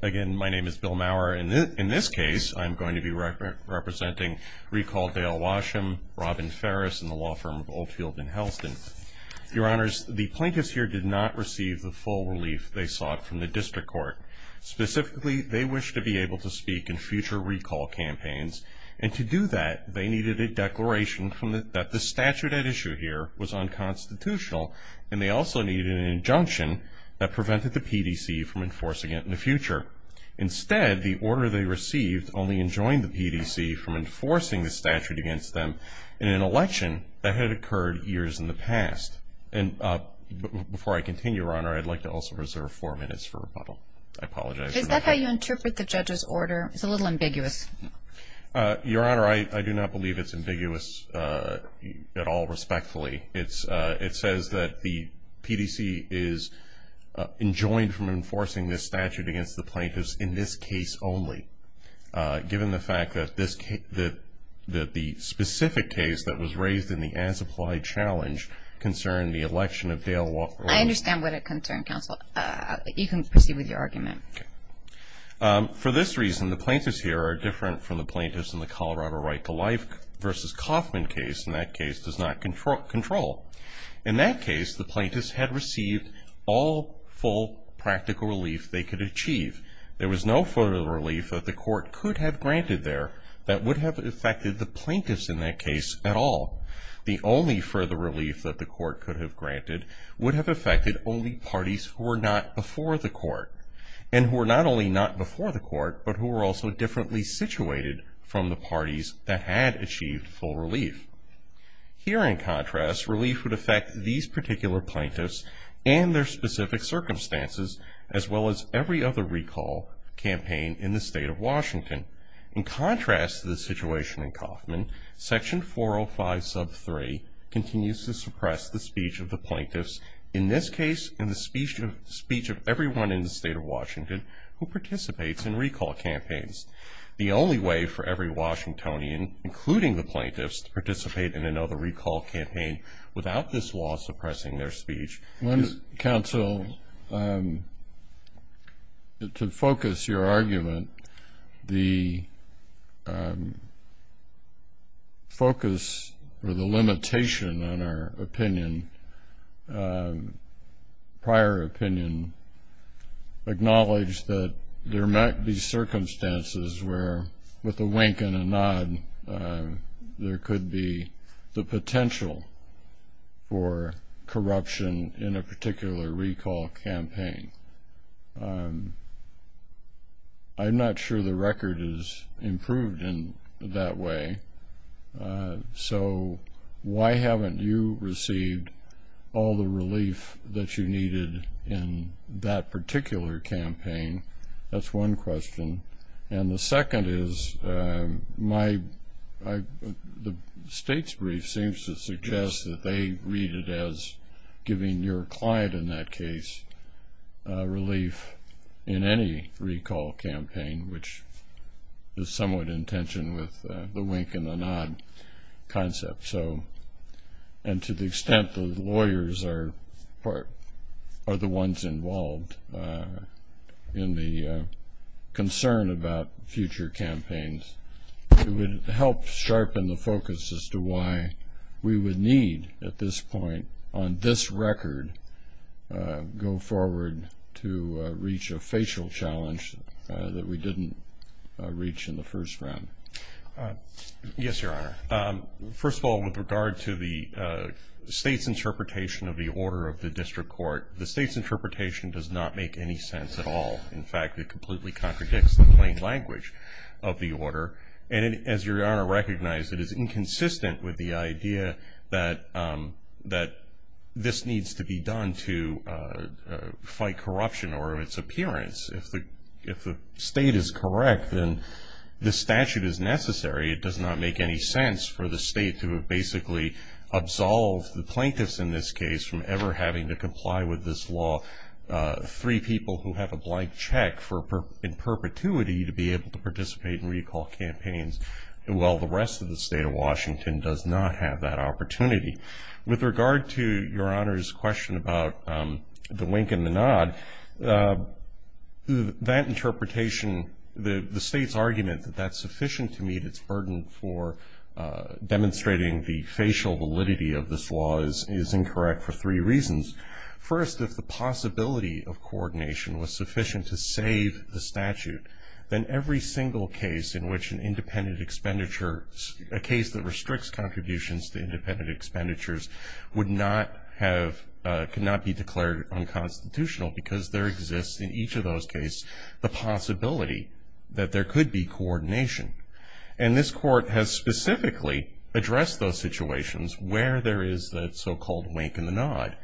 Again, my name is Bill Maurer. In this case, I'm going to be representing recall Dale Washam, Robin Farris, and the law firm of Oldfield and Helston. Your Honors, the plaintiffs here did not receive the full relief they sought from the district court. Specifically, they wished to be able to speak in future recall campaigns. And to do that, they needed a declaration that the statute at issue here was unconstitutional, and they also needed an injunction that prevented the PDC from enforcing it in the future. Instead, the order they received only enjoined the PDC from enforcing the statute against them in an election that had occurred years in the past. And before I continue, Your Honor, I'd like to also reserve four minutes for rebuttal. I apologize. Is that how you interpret the judge's order? It's a little ambiguous. Your Honor, I do not believe it's ambiguous at all respectfully. It says that the PDC is enjoined from enforcing this statute against the plaintiffs in this case only, given the fact that the specific case that was raised in the as-applied challenge concerned the election of Dale Washam. I understand what it concerned, Counsel. You can proceed with your argument. For this reason, the plaintiffs here are different from the plaintiffs in the Colorado Right to Life v. Kauffman case, and that case does not control. In that case, the plaintiffs had received all full practical relief they could achieve. There was no further relief that the court could have granted there that would have affected the plaintiffs in that case at all. The only further relief that the court could have granted would have affected only parties who were not before the court. And who were not only not before the court, but who were also differently situated from the parties that had achieved full relief. Here, in contrast, relief would affect these particular plaintiffs and their specific circumstances, as well as every other recall campaign in the state of Washington. In contrast to the situation in Kauffman, section 405 sub 3 continues to suppress the speech of the plaintiffs, in this case, in the speech of everyone in the state of Washington who participates in recall campaigns. The only way for every Washingtonian, including the plaintiffs, to participate in another recall campaign without this law suppressing their speech Counsel, to focus your argument, the focus or the limitation on our opinion, prior opinion, acknowledge that there might be circumstances where, with a wink and a nod, there could be the potential for corruption in a particular recall campaign. I'm not sure the record is improved in that way. So, why haven't you received all the relief that you needed in that particular campaign? That's one question. And the second is, the state's brief seems to suggest that they read it as giving your client, in that case, relief in any recall campaign, which is somewhat in tension with the wink and a nod concept. And to the extent that lawyers are the ones involved in the concern about future campaigns, it would help sharpen the focus as to why we would need, at this point, on this record, go forward to reach a facial challenge that we didn't reach in the first round. Yes, Your Honor. First of all, with regard to the state's interpretation of the order of the district court, the state's interpretation does not make any sense at all. In fact, it completely contradicts the plain language of the order. And as Your Honor recognized, it is inconsistent with the idea that this needs to be done to fight corruption or its appearance. If the state is correct, then this statute is necessary. It does not make any sense for the state to have basically absolved the plaintiffs in this case from ever having to comply with this law, three people who have a blank check in perpetuity to be able to participate in recall campaigns, while the rest of the state of Washington does not have that opportunity. With regard to Your Honor's question about the wink and the nod, that interpretation, the state's argument that that's sufficient to meet its burden for demonstrating the facial validity of this law is incorrect for three reasons. First, if the possibility of coordination was sufficient to save the statute, then every single case in which an independent expenditure, a case that restricts contributions to independent expenditures, would not have, could not be declared unconstitutional because there exists in each of those cases the possibility that there could be coordination. And this court has specifically addressed those situations where there is that so-called wink and the nod,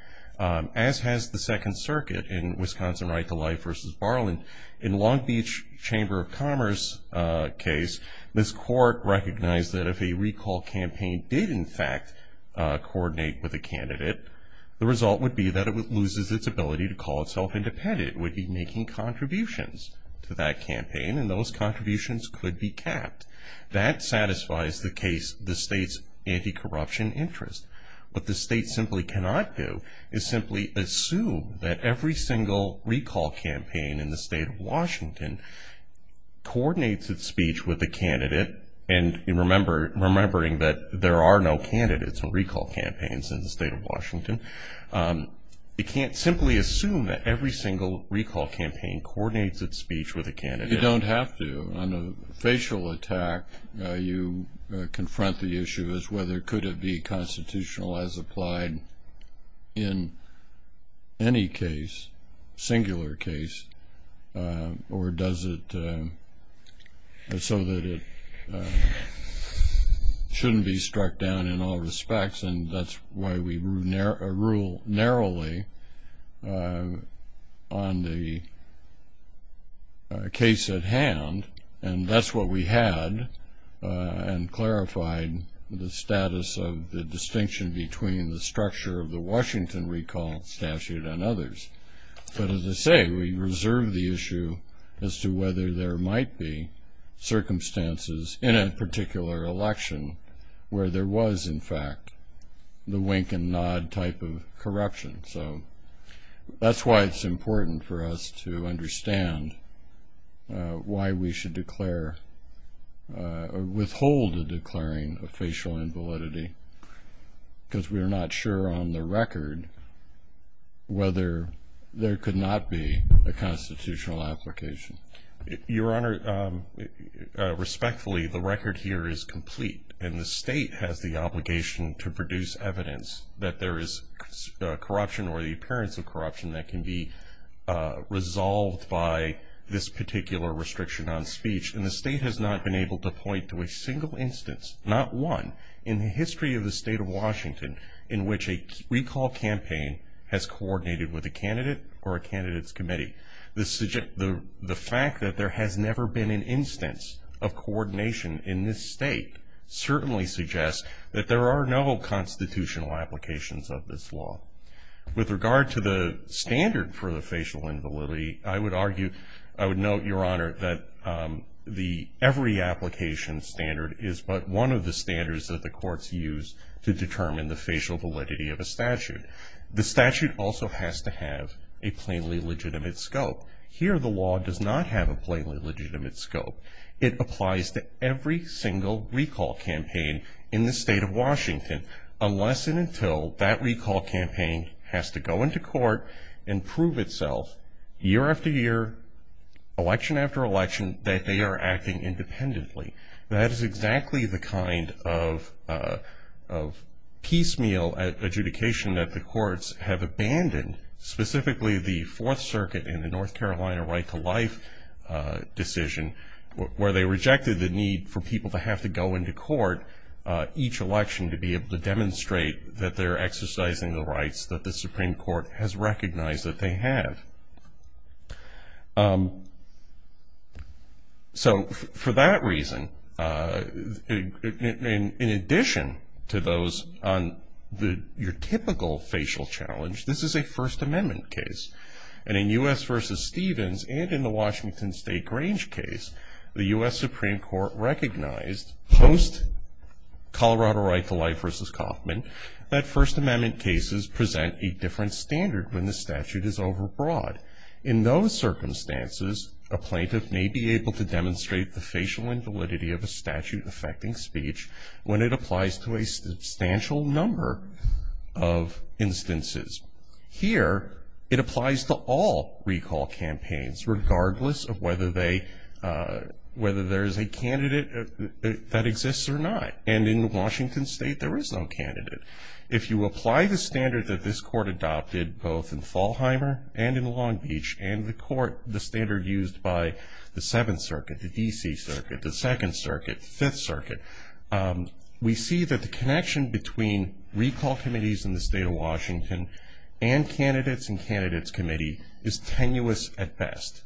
as has the Second Circuit in Wisconsin right to life versus Barlin. In Long Beach Chamber of Commerce case, this court recognized that if a recall campaign did in fact coordinate with a candidate, the result would be that it loses its ability to call itself independent. It would be making contributions to that campaign, and those contributions could be capped. That satisfies the case, the state's anti-corruption interest. What the state simply cannot do is simply assume that every single recall campaign in the state of Washington coordinates its speech with a candidate, and remembering that there are no candidates in recall campaigns in the state of Washington, it can't simply assume that every single recall campaign coordinates its speech with a candidate. You don't have to. On a facial attack, you confront the issue as whether it could be constitutional as applied in any case, singular case, or does it so that it shouldn't be struck down in all respects. And that's why we rule narrowly on the case at hand. And that's what we had and clarified the status of the distinction between the structure of the Washington recall statute and others. But as I say, we reserve the issue as to whether there might be circumstances in a particular election where there was, in fact, the wink and nod type of corruption. So that's why it's important for us to understand why we should declare or withhold the declaring of facial invalidity, because we are not sure on the record whether there could not be a constitutional application. Your Honor, respectfully, the record here is complete, and the state has the obligation to produce evidence that there is corruption or the appearance of corruption that can be resolved by this particular restriction on speech. And the state has not been able to point to a single instance, not one, in the history of the state of Washington in which a recall campaign has coordinated with a candidate or a candidate's committee. The fact that there has never been an instance of coordination in this state certainly suggests that there are no constitutional applications of this law. With regard to the standard for the facial invalidity, I would argue, I would note, Your Honor, that every application standard is but one of the standards that the courts use to determine the facial validity of a statute. The statute also has to have a plainly legitimate scope. Here, the law does not have a plainly legitimate scope. It applies to every single recall campaign in the state of Washington, unless and until that recall campaign has to go into court and prove itself year after year, election after election, that they are acting independently. That is exactly the kind of piecemeal adjudication that the courts have abandoned, specifically the Fourth Circuit in the North Carolina right to life decision, where they rejected the need for people to have to go into court each election to be able to demonstrate that they're exercising the rights that the Supreme Court has recognized that they have. So for that reason, in addition to those on your typical facial challenge, this is a First Amendment case. And in U.S. v. Stevens and in the Washington State Grange case, the U.S. Supreme Court recognized post-Colorado right to life v. Kauffman that First Amendment cases present a different standard when the statute is overbroad. In those circumstances, a plaintiff may be able to demonstrate the facial invalidity of a statute affecting speech when it applies to a substantial number of instances. Here, it applies to all recall campaigns, regardless of whether there is a candidate that exists or not. And in Washington State, there is no candidate. If you apply the standard that this Court adopted, both in Fallheimer and in Long Beach, and the Court, the standard used by the Seventh Circuit, the D.C. Circuit, the Second Circuit, Fifth Circuit, we see that the connection between recall committees in the state of Washington and candidates and candidates' committee is tenuous at best,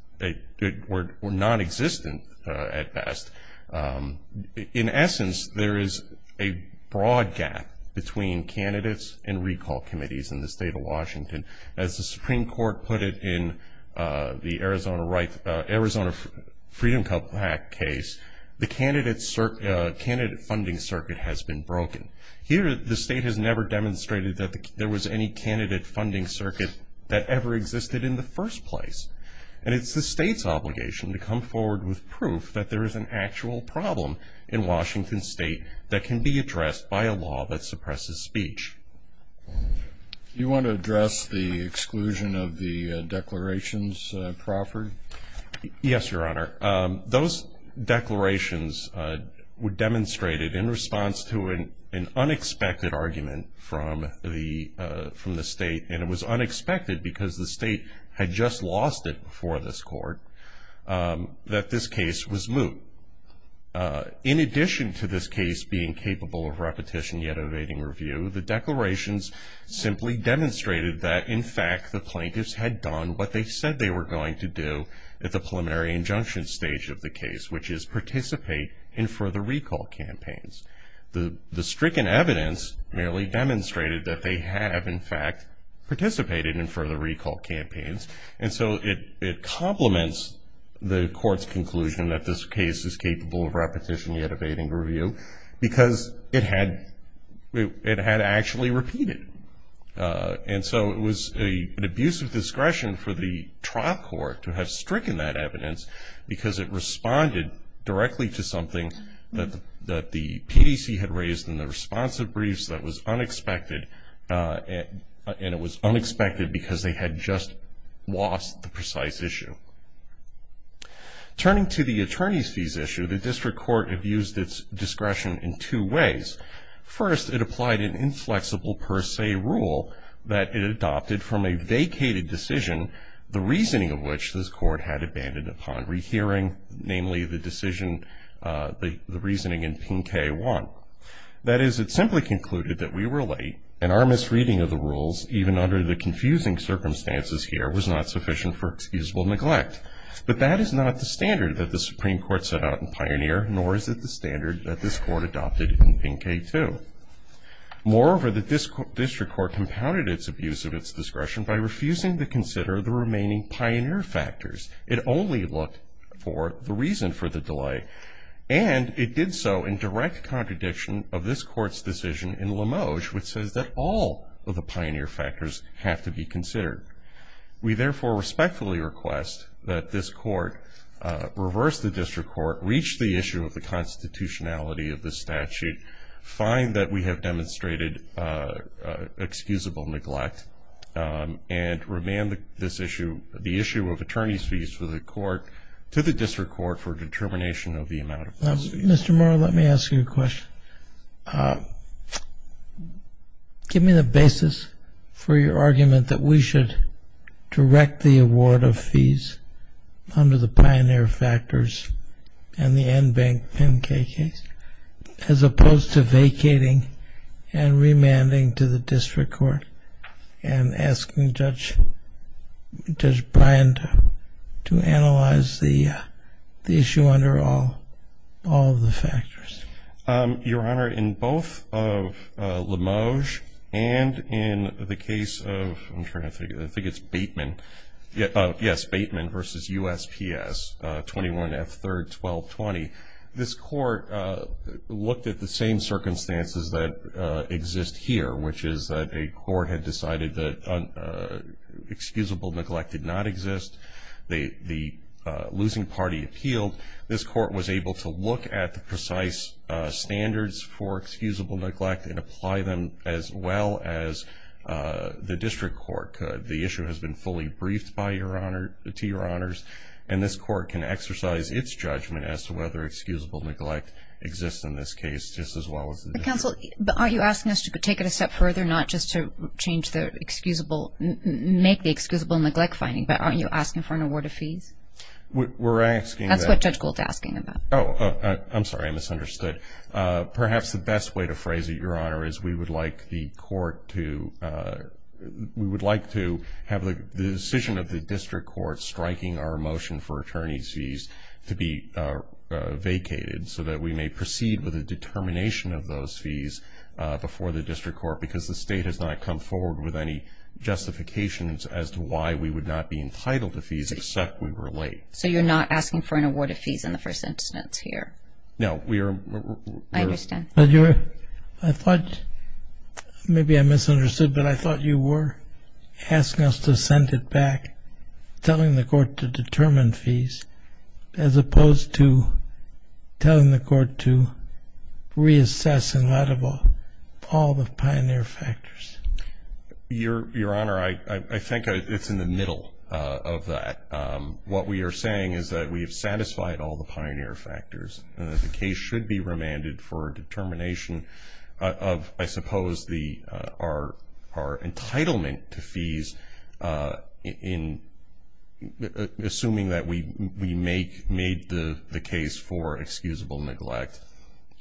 or nonexistent at best. In essence, there is a broad gap between candidates and recall committees in the state of Washington. As the Supreme Court put it in the Arizona Freedom Cup case, the candidate funding circuit has been broken. Here, the state has never demonstrated that there was any candidate funding circuit that ever existed in the first place. And it's the state's obligation to come forward with proof that there is an actual problem in Washington State that can be addressed by a law that suppresses speech. Do you want to address the exclusion of the declarations, Crawford? Yes, Your Honor. Those declarations were demonstrated in response to an unexpected argument from the state, and it was unexpected because the state had just lost it before this Court, that this case was moot. In addition to this case being capable of repetition yet evading review, the declarations simply demonstrated that, in fact, the plaintiffs had done what they said they were going to do at the preliminary injunction stage of the case, which is participate in further recall campaigns. The stricken evidence merely demonstrated that they have, in fact, participated in further recall campaigns. And so it complements the Court's conclusion that this case is capable of repetition yet evading review because it had actually repeated. And so it was an abuse of discretion for the trial court to have stricken that evidence because it responded directly to something that the PDC had raised in the responsive briefs that was unexpected, and it was unexpected because they had just lost the precise issue. Turning to the attorney's fees issue, the district court abused its discretion in two ways. First, it applied an inflexible per se rule that it adopted from a vacated decision, the reasoning of which this Court had abandoned upon rehearing, namely the decision, the reasoning in PIN K-1. That is, it simply concluded that we were late and our misreading of the rules, even under the confusing circumstances here, was not sufficient for excusable neglect. But that is not the standard that the Supreme Court set out in Pioneer, nor is it the standard that this Court adopted in PIN K-2. Moreover, the district court compounded its abuse of its discretion by refusing to consider the remaining Pioneer factors. It only looked for the reason for the delay, and it did so in direct contradiction of this Court's decision in Limoge, which says that all of the Pioneer factors have to be considered. We therefore respectfully request that this Court reverse the district court, reach the issue of the constitutionality of the statute, find that we have demonstrated excusable neglect, and remand this issue, the issue of attorney's fees for the court, to the district court for determination of the amount of fees. Mr. Murrow, let me ask you a question. Give me the basis for your argument that we should direct the award of fees under the Pioneer factors and the NBANK PIN K case, as opposed to vacating and remanding to the district court and asking Judge Bryan to analyze the issue under all of the factors. Your Honor, in both of Limoge and in the case of, I'm trying to think, I think it's Bateman, yes, Bateman v. USPS 21F3-1220, this Court looked at the same circumstances that exist here, which is that a court had decided that excusable neglect did not exist. The losing party appealed. This Court was able to look at the precise standards for excusable neglect and apply them as well as the district court could. The issue has been fully briefed to your Honors, and this Court can exercise its judgment as to whether excusable neglect exists in this case, just as well as the district court. Counsel, are you asking us to take it a step further, not just to make the excusable neglect finding, but are you asking for an award of fees? We're asking that. That's what Judge Gould's asking about. Oh, I'm sorry, I misunderstood. Perhaps the best way to phrase it, Your Honor, is we would like the court to, we would like to have the decision of the district court striking our motion for attorney's fees to be vacated so that we may proceed with a determination of those fees before the district court because the state has not come forward with any justifications as to why we would not be entitled to fees except we were late. So you're not asking for an award of fees in the first instance here? No. I understand. But you're, I thought, maybe I misunderstood, but I thought you were asking us to send it back telling the court to determine fees as opposed to telling the court to reassess and let all the pioneer factors. Your Honor, I think it's in the middle of that. What we are saying is that we have satisfied all the pioneer factors and that the case should be remanded for a determination of, I suppose, our entitlement to fees in assuming that we made the case for excusable neglect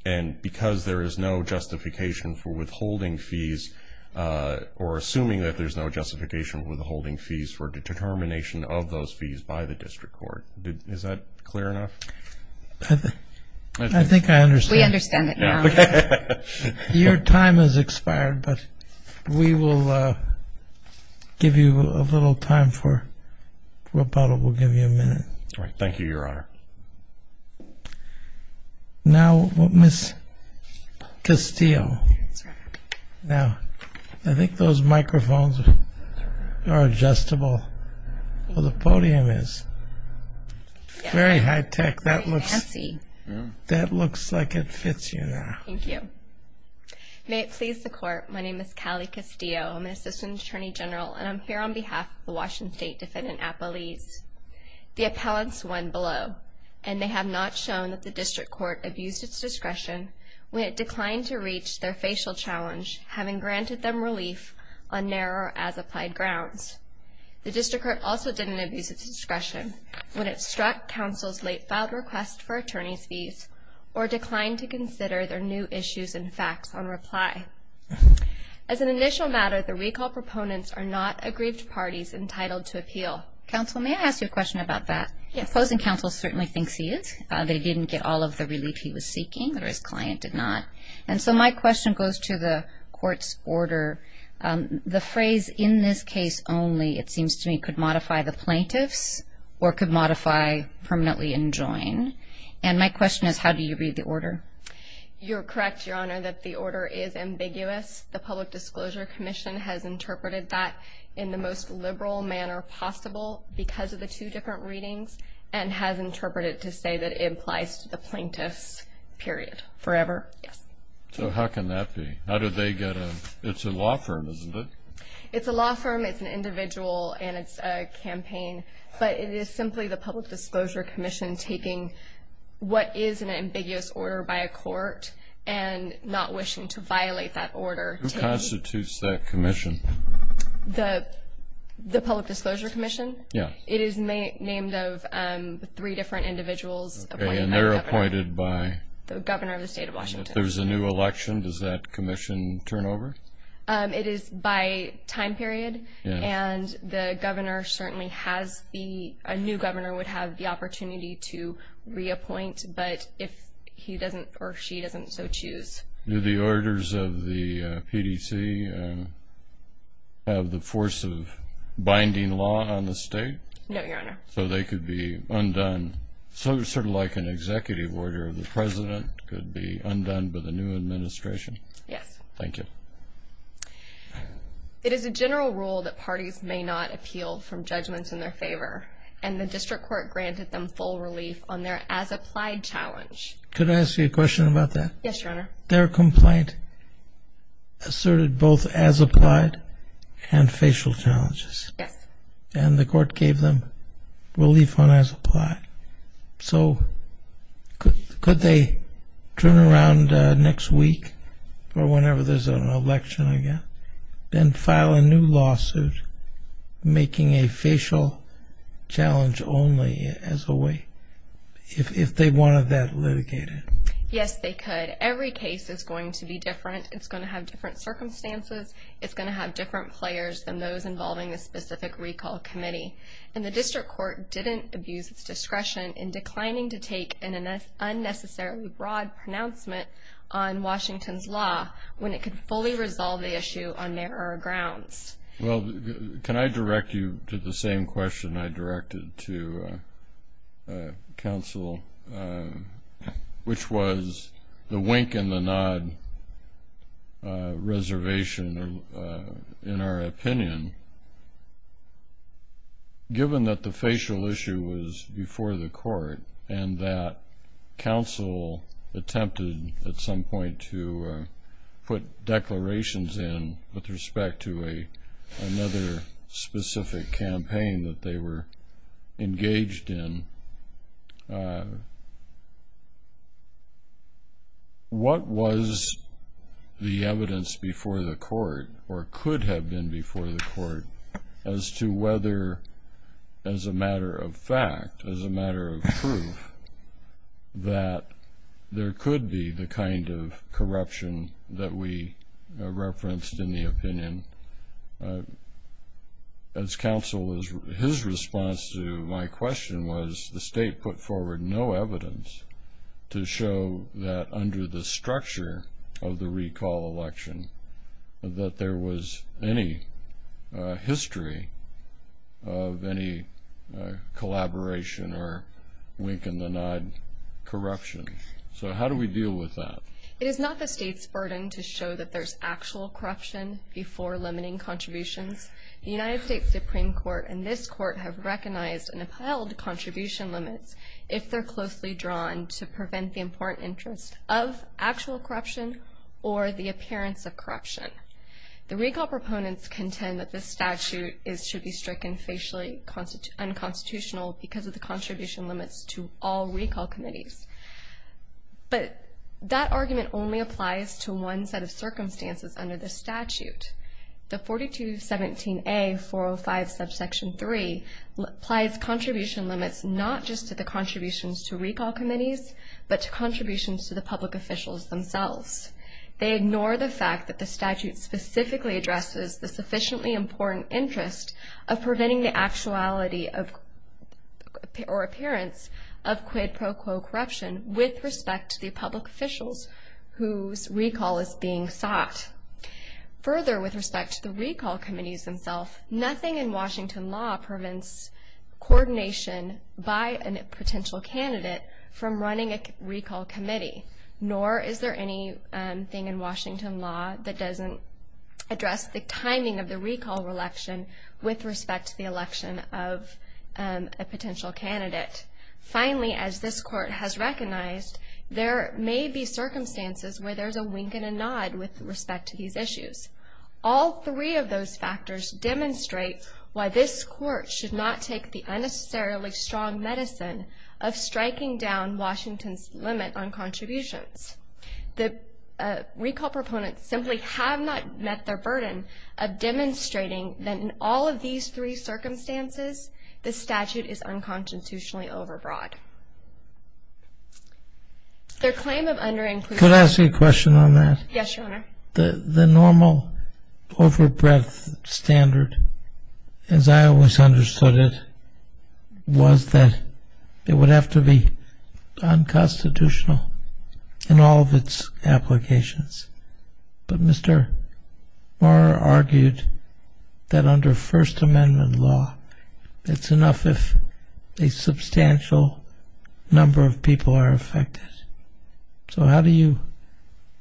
and because there is no justification for withholding fees or assuming that there's no justification for withholding fees for determination of those fees by the district court. Is that clear enough? I think I understand. We understand it now. Your time has expired, but we will give you a little time for rebuttal. We'll give you a minute. All right. Thank you, Your Honor. Now, Ms. Castile. Now, I think those microphones are adjustable. Well, the podium is. Very high tech. That looks like it fits you now. Thank you. May it please the court, my name is Callie Castile. I'm an assistant attorney general, and I'm here on behalf of the Washington State Defendant Appellees. The appellants won below, and they have not shown that the district court abused its discretion when it declined to reach their facial challenge, having granted them relief on narrow as applied grounds. The district court also didn't abuse its discretion when it struck counsel's late filed request for attorney's fees or declined to consider their new issues and facts on reply. As an initial matter, the recall proponents are not aggrieved parties entitled to appeal. Counsel, may I ask you a question about that? Yes. The opposing counsel certainly thinks he is. They didn't get all of the relief he was seeking, or his client did not. And so my question goes to the court's order. The phrase, in this case only, it seems to me, could modify the plaintiffs or could modify permanently enjoin. And my question is, how do you read the order? You're correct, Your Honor, that the order is ambiguous. The Public Disclosure Commission has interpreted that in the most liberal manner possible because of the two different readings and has interpreted it to say that it applies to the plaintiffs, period. Forever? Yes. So how can that be? It's a law firm, isn't it? It's a law firm, it's an individual, and it's a campaign. But it is simply the Public Disclosure Commission taking what is an ambiguous order by a court and not wishing to violate that order. Who constitutes that commission? The Public Disclosure Commission? Yes. It is named of three different individuals appointed by the governor. And they're appointed by? The governor of the state of Washington. If there's a new election, does that commission turn over? It is by time period. And the governor certainly has the new governor would have the opportunity to reappoint, but if he doesn't or she doesn't, so choose. Do the orders of the PDC have the force of binding law on the state? No, Your Honor. So they could be undone. So sort of like an executive order, the president could be undone by the new administration? Yes. Thank you. It is a general rule that parties may not appeal from judgments in their favor, and the district court granted them full relief on their as-applied challenge. Could I ask you a question about that? Yes, Your Honor. Their complaint asserted both as-applied and facial challenges. Yes. And the court gave them relief on as-applied. So could they turn around next week or whenever there's an election again and file a new lawsuit making a facial challenge only as a way, if they wanted that litigated? Yes, they could. Every case is going to be different. It's going to have different circumstances. It's going to have different players than those involving a specific recall committee. And the district court didn't abuse its discretion in declining to take an unnecessarily broad pronouncement on Washington's law when it could fully resolve the issue on narrower grounds. Well, can I direct you to the same question I directed to counsel, which was the wink and the nod reservation, in our opinion. Given that the facial issue was before the court and that counsel attempted at some point to put declarations in with respect to another specific campaign that they were engaged in, what was the evidence before the court or could have been before the court as to whether, as a matter of fact, as a matter of proof, that there could be the kind of corruption that we referenced in the opinion as counsel. His response to my question was the state put forward no evidence to show that under the structure of the recall election that there was any history of any collaboration or wink and the nod corruption. So how do we deal with that? It is not the state's burden to show that there's actual corruption before limiting contributions. The United States Supreme Court and this court have recognized and upheld contribution limits if they're closely drawn to prevent the important interest of actual corruption or the appearance of corruption. The recall proponents contend that this statute should be stricken facially unconstitutional because of the contribution limits to all recall committees. But that argument only applies to one set of circumstances under the statute. The 4217A-405 subsection 3 applies contribution limits not just to the contributions to recall committees but to contributions to the public officials themselves. They ignore the fact that the statute specifically addresses the sufficiently important interest of preventing the actuality or appearance of quid pro quo corruption with respect to the public officials whose recall is being sought. Further, with respect to the recall committees themselves, nothing in Washington law prevents coordination by a potential candidate from running a recall committee. Nor is there anything in Washington law that doesn't address the timing of the recall election with respect to the election of a potential candidate. Finally, as this court has recognized, there may be circumstances where there's a wink and a nod with respect to these issues. All three of those factors demonstrate why this court should not take the unnecessarily strong medicine of striking down Washington's limit on contributions. The recall proponents simply have not met their burden of demonstrating that in all of these three circumstances the statute is unconstitutionally overbroad. Their claim of underinclusion. Could I ask you a question on that? Yes, Your Honor. The normal overbreadth standard, as I always understood it, was that it would have to be unconstitutional in all of its applications. But Mr. Maurer argued that under First Amendment law, it's enough if a substantial number of people are affected. So how do you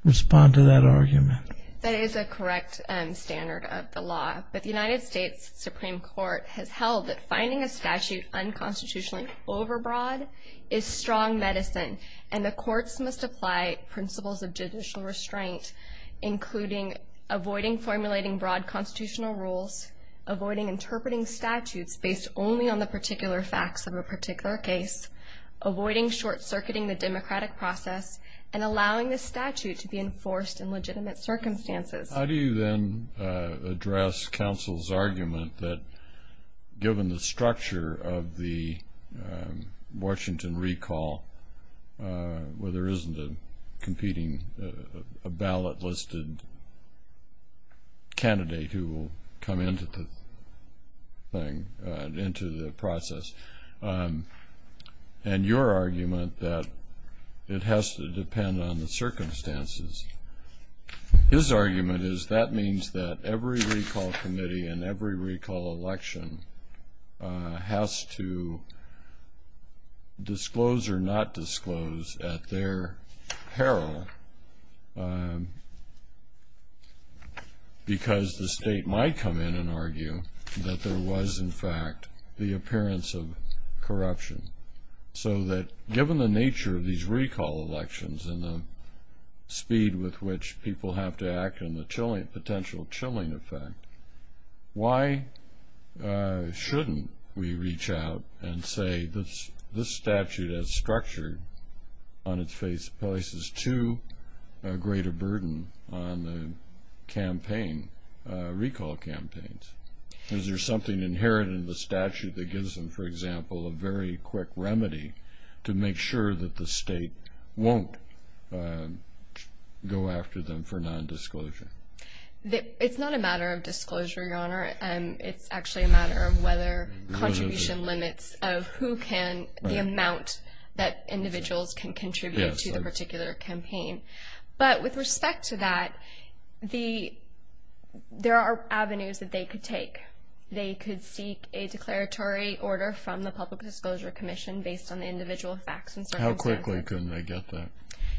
respond to that argument? That is a correct standard of the law. But the United States Supreme Court has held that finding a statute unconstitutionally overbroad is strong medicine, and the courts must apply principles of judicial restraint, including avoiding formulating broad constitutional rules, avoiding interpreting statutes based only on the particular facts of a particular case, avoiding short-circuiting the democratic process, and allowing the statute to be enforced in legitimate circumstances. How do you then address counsel's argument that, given the structure of the Washington recall, where there isn't a competing ballot-listed candidate who will come into the process, and your argument that it has to depend on the circumstances, his argument is that means that every recall committee and every recall election has to disclose or not disclose at their peril, because the state might come in and argue that there was, in fact, the appearance of corruption. So that given the nature of these recall elections and the speed with which people have to act and the potential chilling effect, why shouldn't we reach out and say this statute as structured on its face places too great a burden on the recall campaigns? Is there something inherent in the statute that gives them, for example, a very quick remedy to make sure that the state won't go after them for non-disclosure? It's not a matter of disclosure, Your Honor. It's actually a matter of whether contribution limits of who can, the amount that individuals can contribute to the particular campaign. But with respect to that, there are avenues that they could take. They could seek a declaratory order from the Public Disclosure Commission based on the individual facts and circumstances. How quickly could they get that?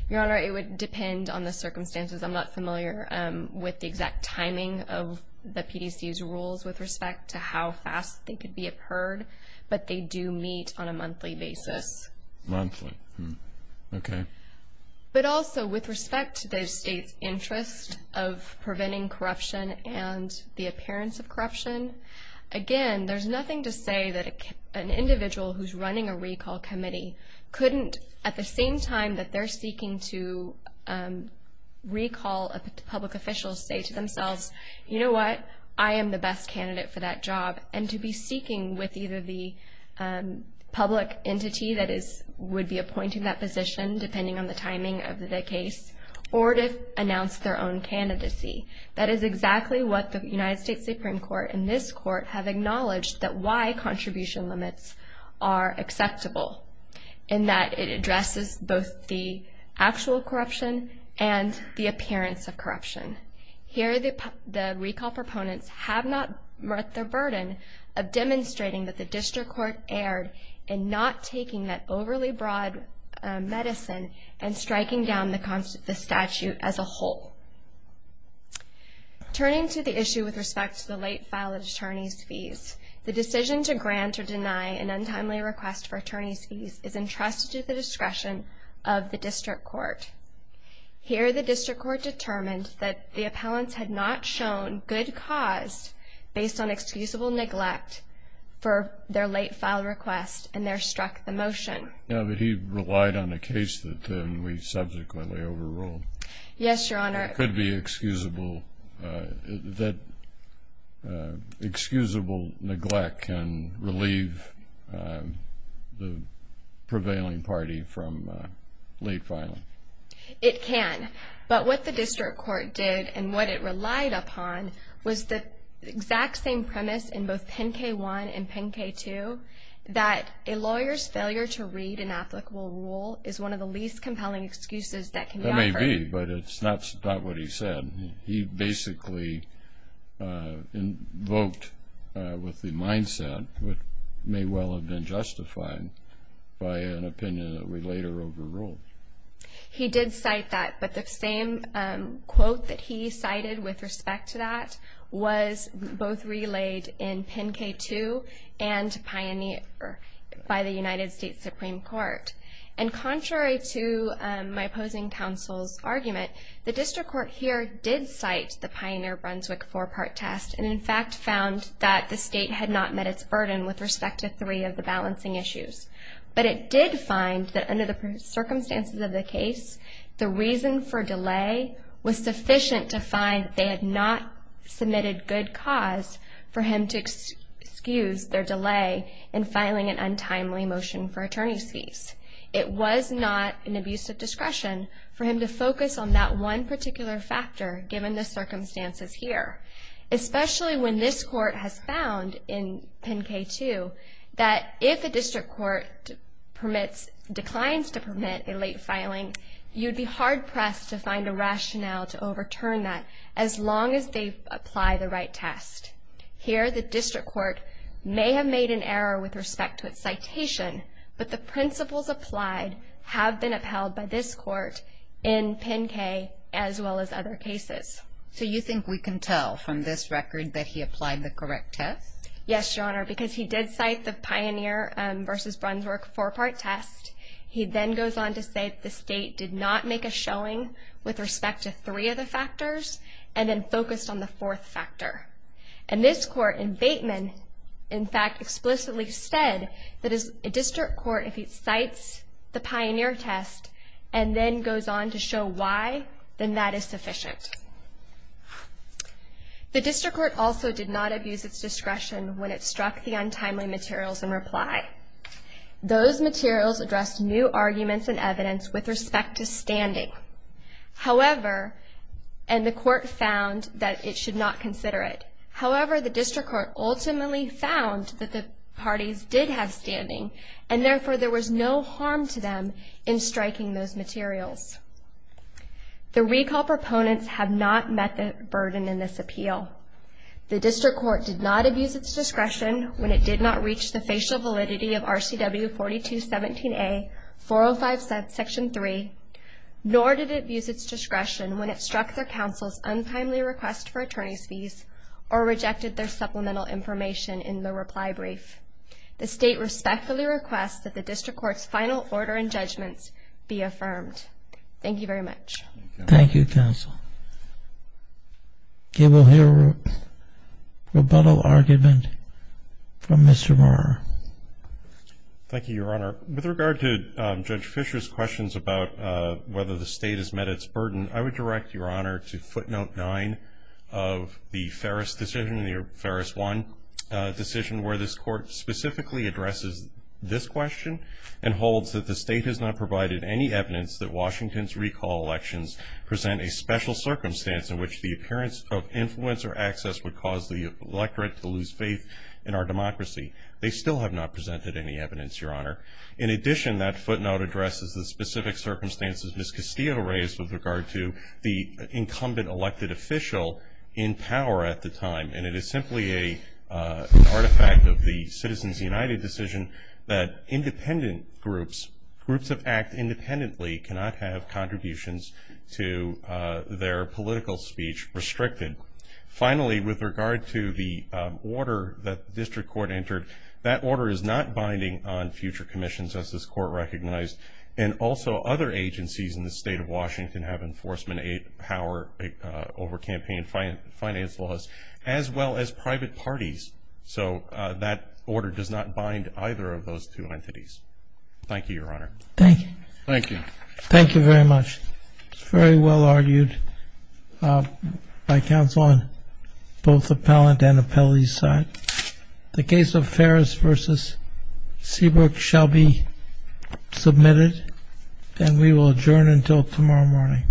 Your Honor, it would depend on the circumstances. I'm not familiar with the exact timing of the PDC's rules with respect to how fast they could be appeared, but they do meet on a monthly basis. Monthly. Okay. But also with respect to the state's interest of preventing corruption and the appearance of corruption, again, there's nothing to say that an individual who's running a recall committee couldn't, at the same time that they're seeking to recall a public official, say to themselves, you know what? I am the best candidate for that job. And to be seeking with either the public entity that would be appointing that position, depending on the timing of the case, or to announce their own candidacy. That is exactly what the United States Supreme Court and this court have acknowledged that why contribution limits are acceptable, in that it addresses both the actual corruption and the appearance of corruption. Here the recall proponents have not met their burden of demonstrating that the district court erred in not taking that overly broad medicine and striking down the statute as a whole. Turning to the issue with respect to the late file of attorney's fees, the decision to grant or deny an untimely request for attorney's fees is entrusted to the discretion of the district court. Here the district court determined that the appellants had not shown good cause based on excusable neglect for their late file request, and there struck the motion. No, but he relied on a case that we subsequently overruled. Yes, Your Honor. It could be excusable neglect can relieve the prevailing party from late filing. It can. But what the district court did and what it relied upon was the exact same premise in both Pen K-1 and Pen K-2, that a lawyer's failure to read an applicable rule is one of the least compelling excuses that can occur. That may be, but it's not what he said. He basically invoked with the mindset what may well have been justified by an opinion that we later overruled. He did cite that, but the same quote that he cited with respect to that was both relayed in Pen K-2 and Pioneer by the United States Supreme Court. And contrary to my opposing counsel's argument, the district court here did cite the Pioneer-Brunswick four-part test and, in fact, found that the state had not met its burden with respect to three of the balancing issues. But it did find that under the circumstances of the case, the reason for delay was sufficient to find they had not submitted good cause for him to excuse their delay in filing an untimely motion for attorney's fees. It was not an abuse of discretion for him to focus on that one particular factor, given the circumstances here, especially when this court has found in Pen K-2 that if a district court declines to permit a late filing, you'd be hard-pressed to find a rationale to overturn that, as long as they apply the right test. Here, the district court may have made an error with respect to its citation, but the principles applied have been upheld by this court in Pen K, as well as other cases. So you think we can tell from this record that he applied the correct test? Yes, Your Honor, because he did cite the Pioneer v. Brunswick four-part test. He then goes on to say the state did not make a showing with respect to three of the factors, and then focused on the fourth factor. And this court in Bateman, in fact, explicitly said that a district court, if it cites the Pioneer test, and then goes on to show why, then that is sufficient. The district court also did not abuse its discretion when it struck the untimely materials in reply. Those materials addressed new arguments and evidence with respect to standing. However, and the court found that it should not consider it. However, the district court ultimately found that the parties did have standing, and therefore there was no harm to them in striking those materials. The recall proponents have not met the burden in this appeal. The district court did not abuse its discretion when it did not reach the discretion when it struck their counsel's untimely request for attorney's fees, or rejected their supplemental information in the reply brief. The state respectfully requests that the district court's final order and judgments be affirmed. Thank you very much. Thank you, counsel. Okay, we'll hear rebuttal argument from Mr. Moore. Thank you, Your Honor. With regard to Judge Fischer's questions about whether the state has met its burden, I would direct Your Honor to footnote nine of the Ferris decision, the Ferris 1 decision, where this court specifically addresses this question and holds that the state has not provided any evidence that Washington's recall elections present a special circumstance in which the appearance of influence or access would cause the electorate to lose faith in our democracy. They still have not presented any evidence, Your Honor. In addition, that footnote addresses the specific circumstances Ms. Castillo raised with regard to the incumbent elected official in power at the time, and it is simply an artifact of the Citizens United decision that independent groups, groups that act independently cannot have contributions to their political speech restricted. Finally, with regard to the order that the district court entered, that order is not binding on future commissions, as this court recognized, and also other agencies in the state of Washington have enforcement power over campaign finance laws, as well as private parties. So that order does not bind either of those two entities. Thank you, Your Honor. Thank you. Thank you. Thank you very much. It's very well argued by counsel on both appellant and appellee's side. The case of Ferris v. Seabrook shall be submitted, and we will adjourn until tomorrow morning.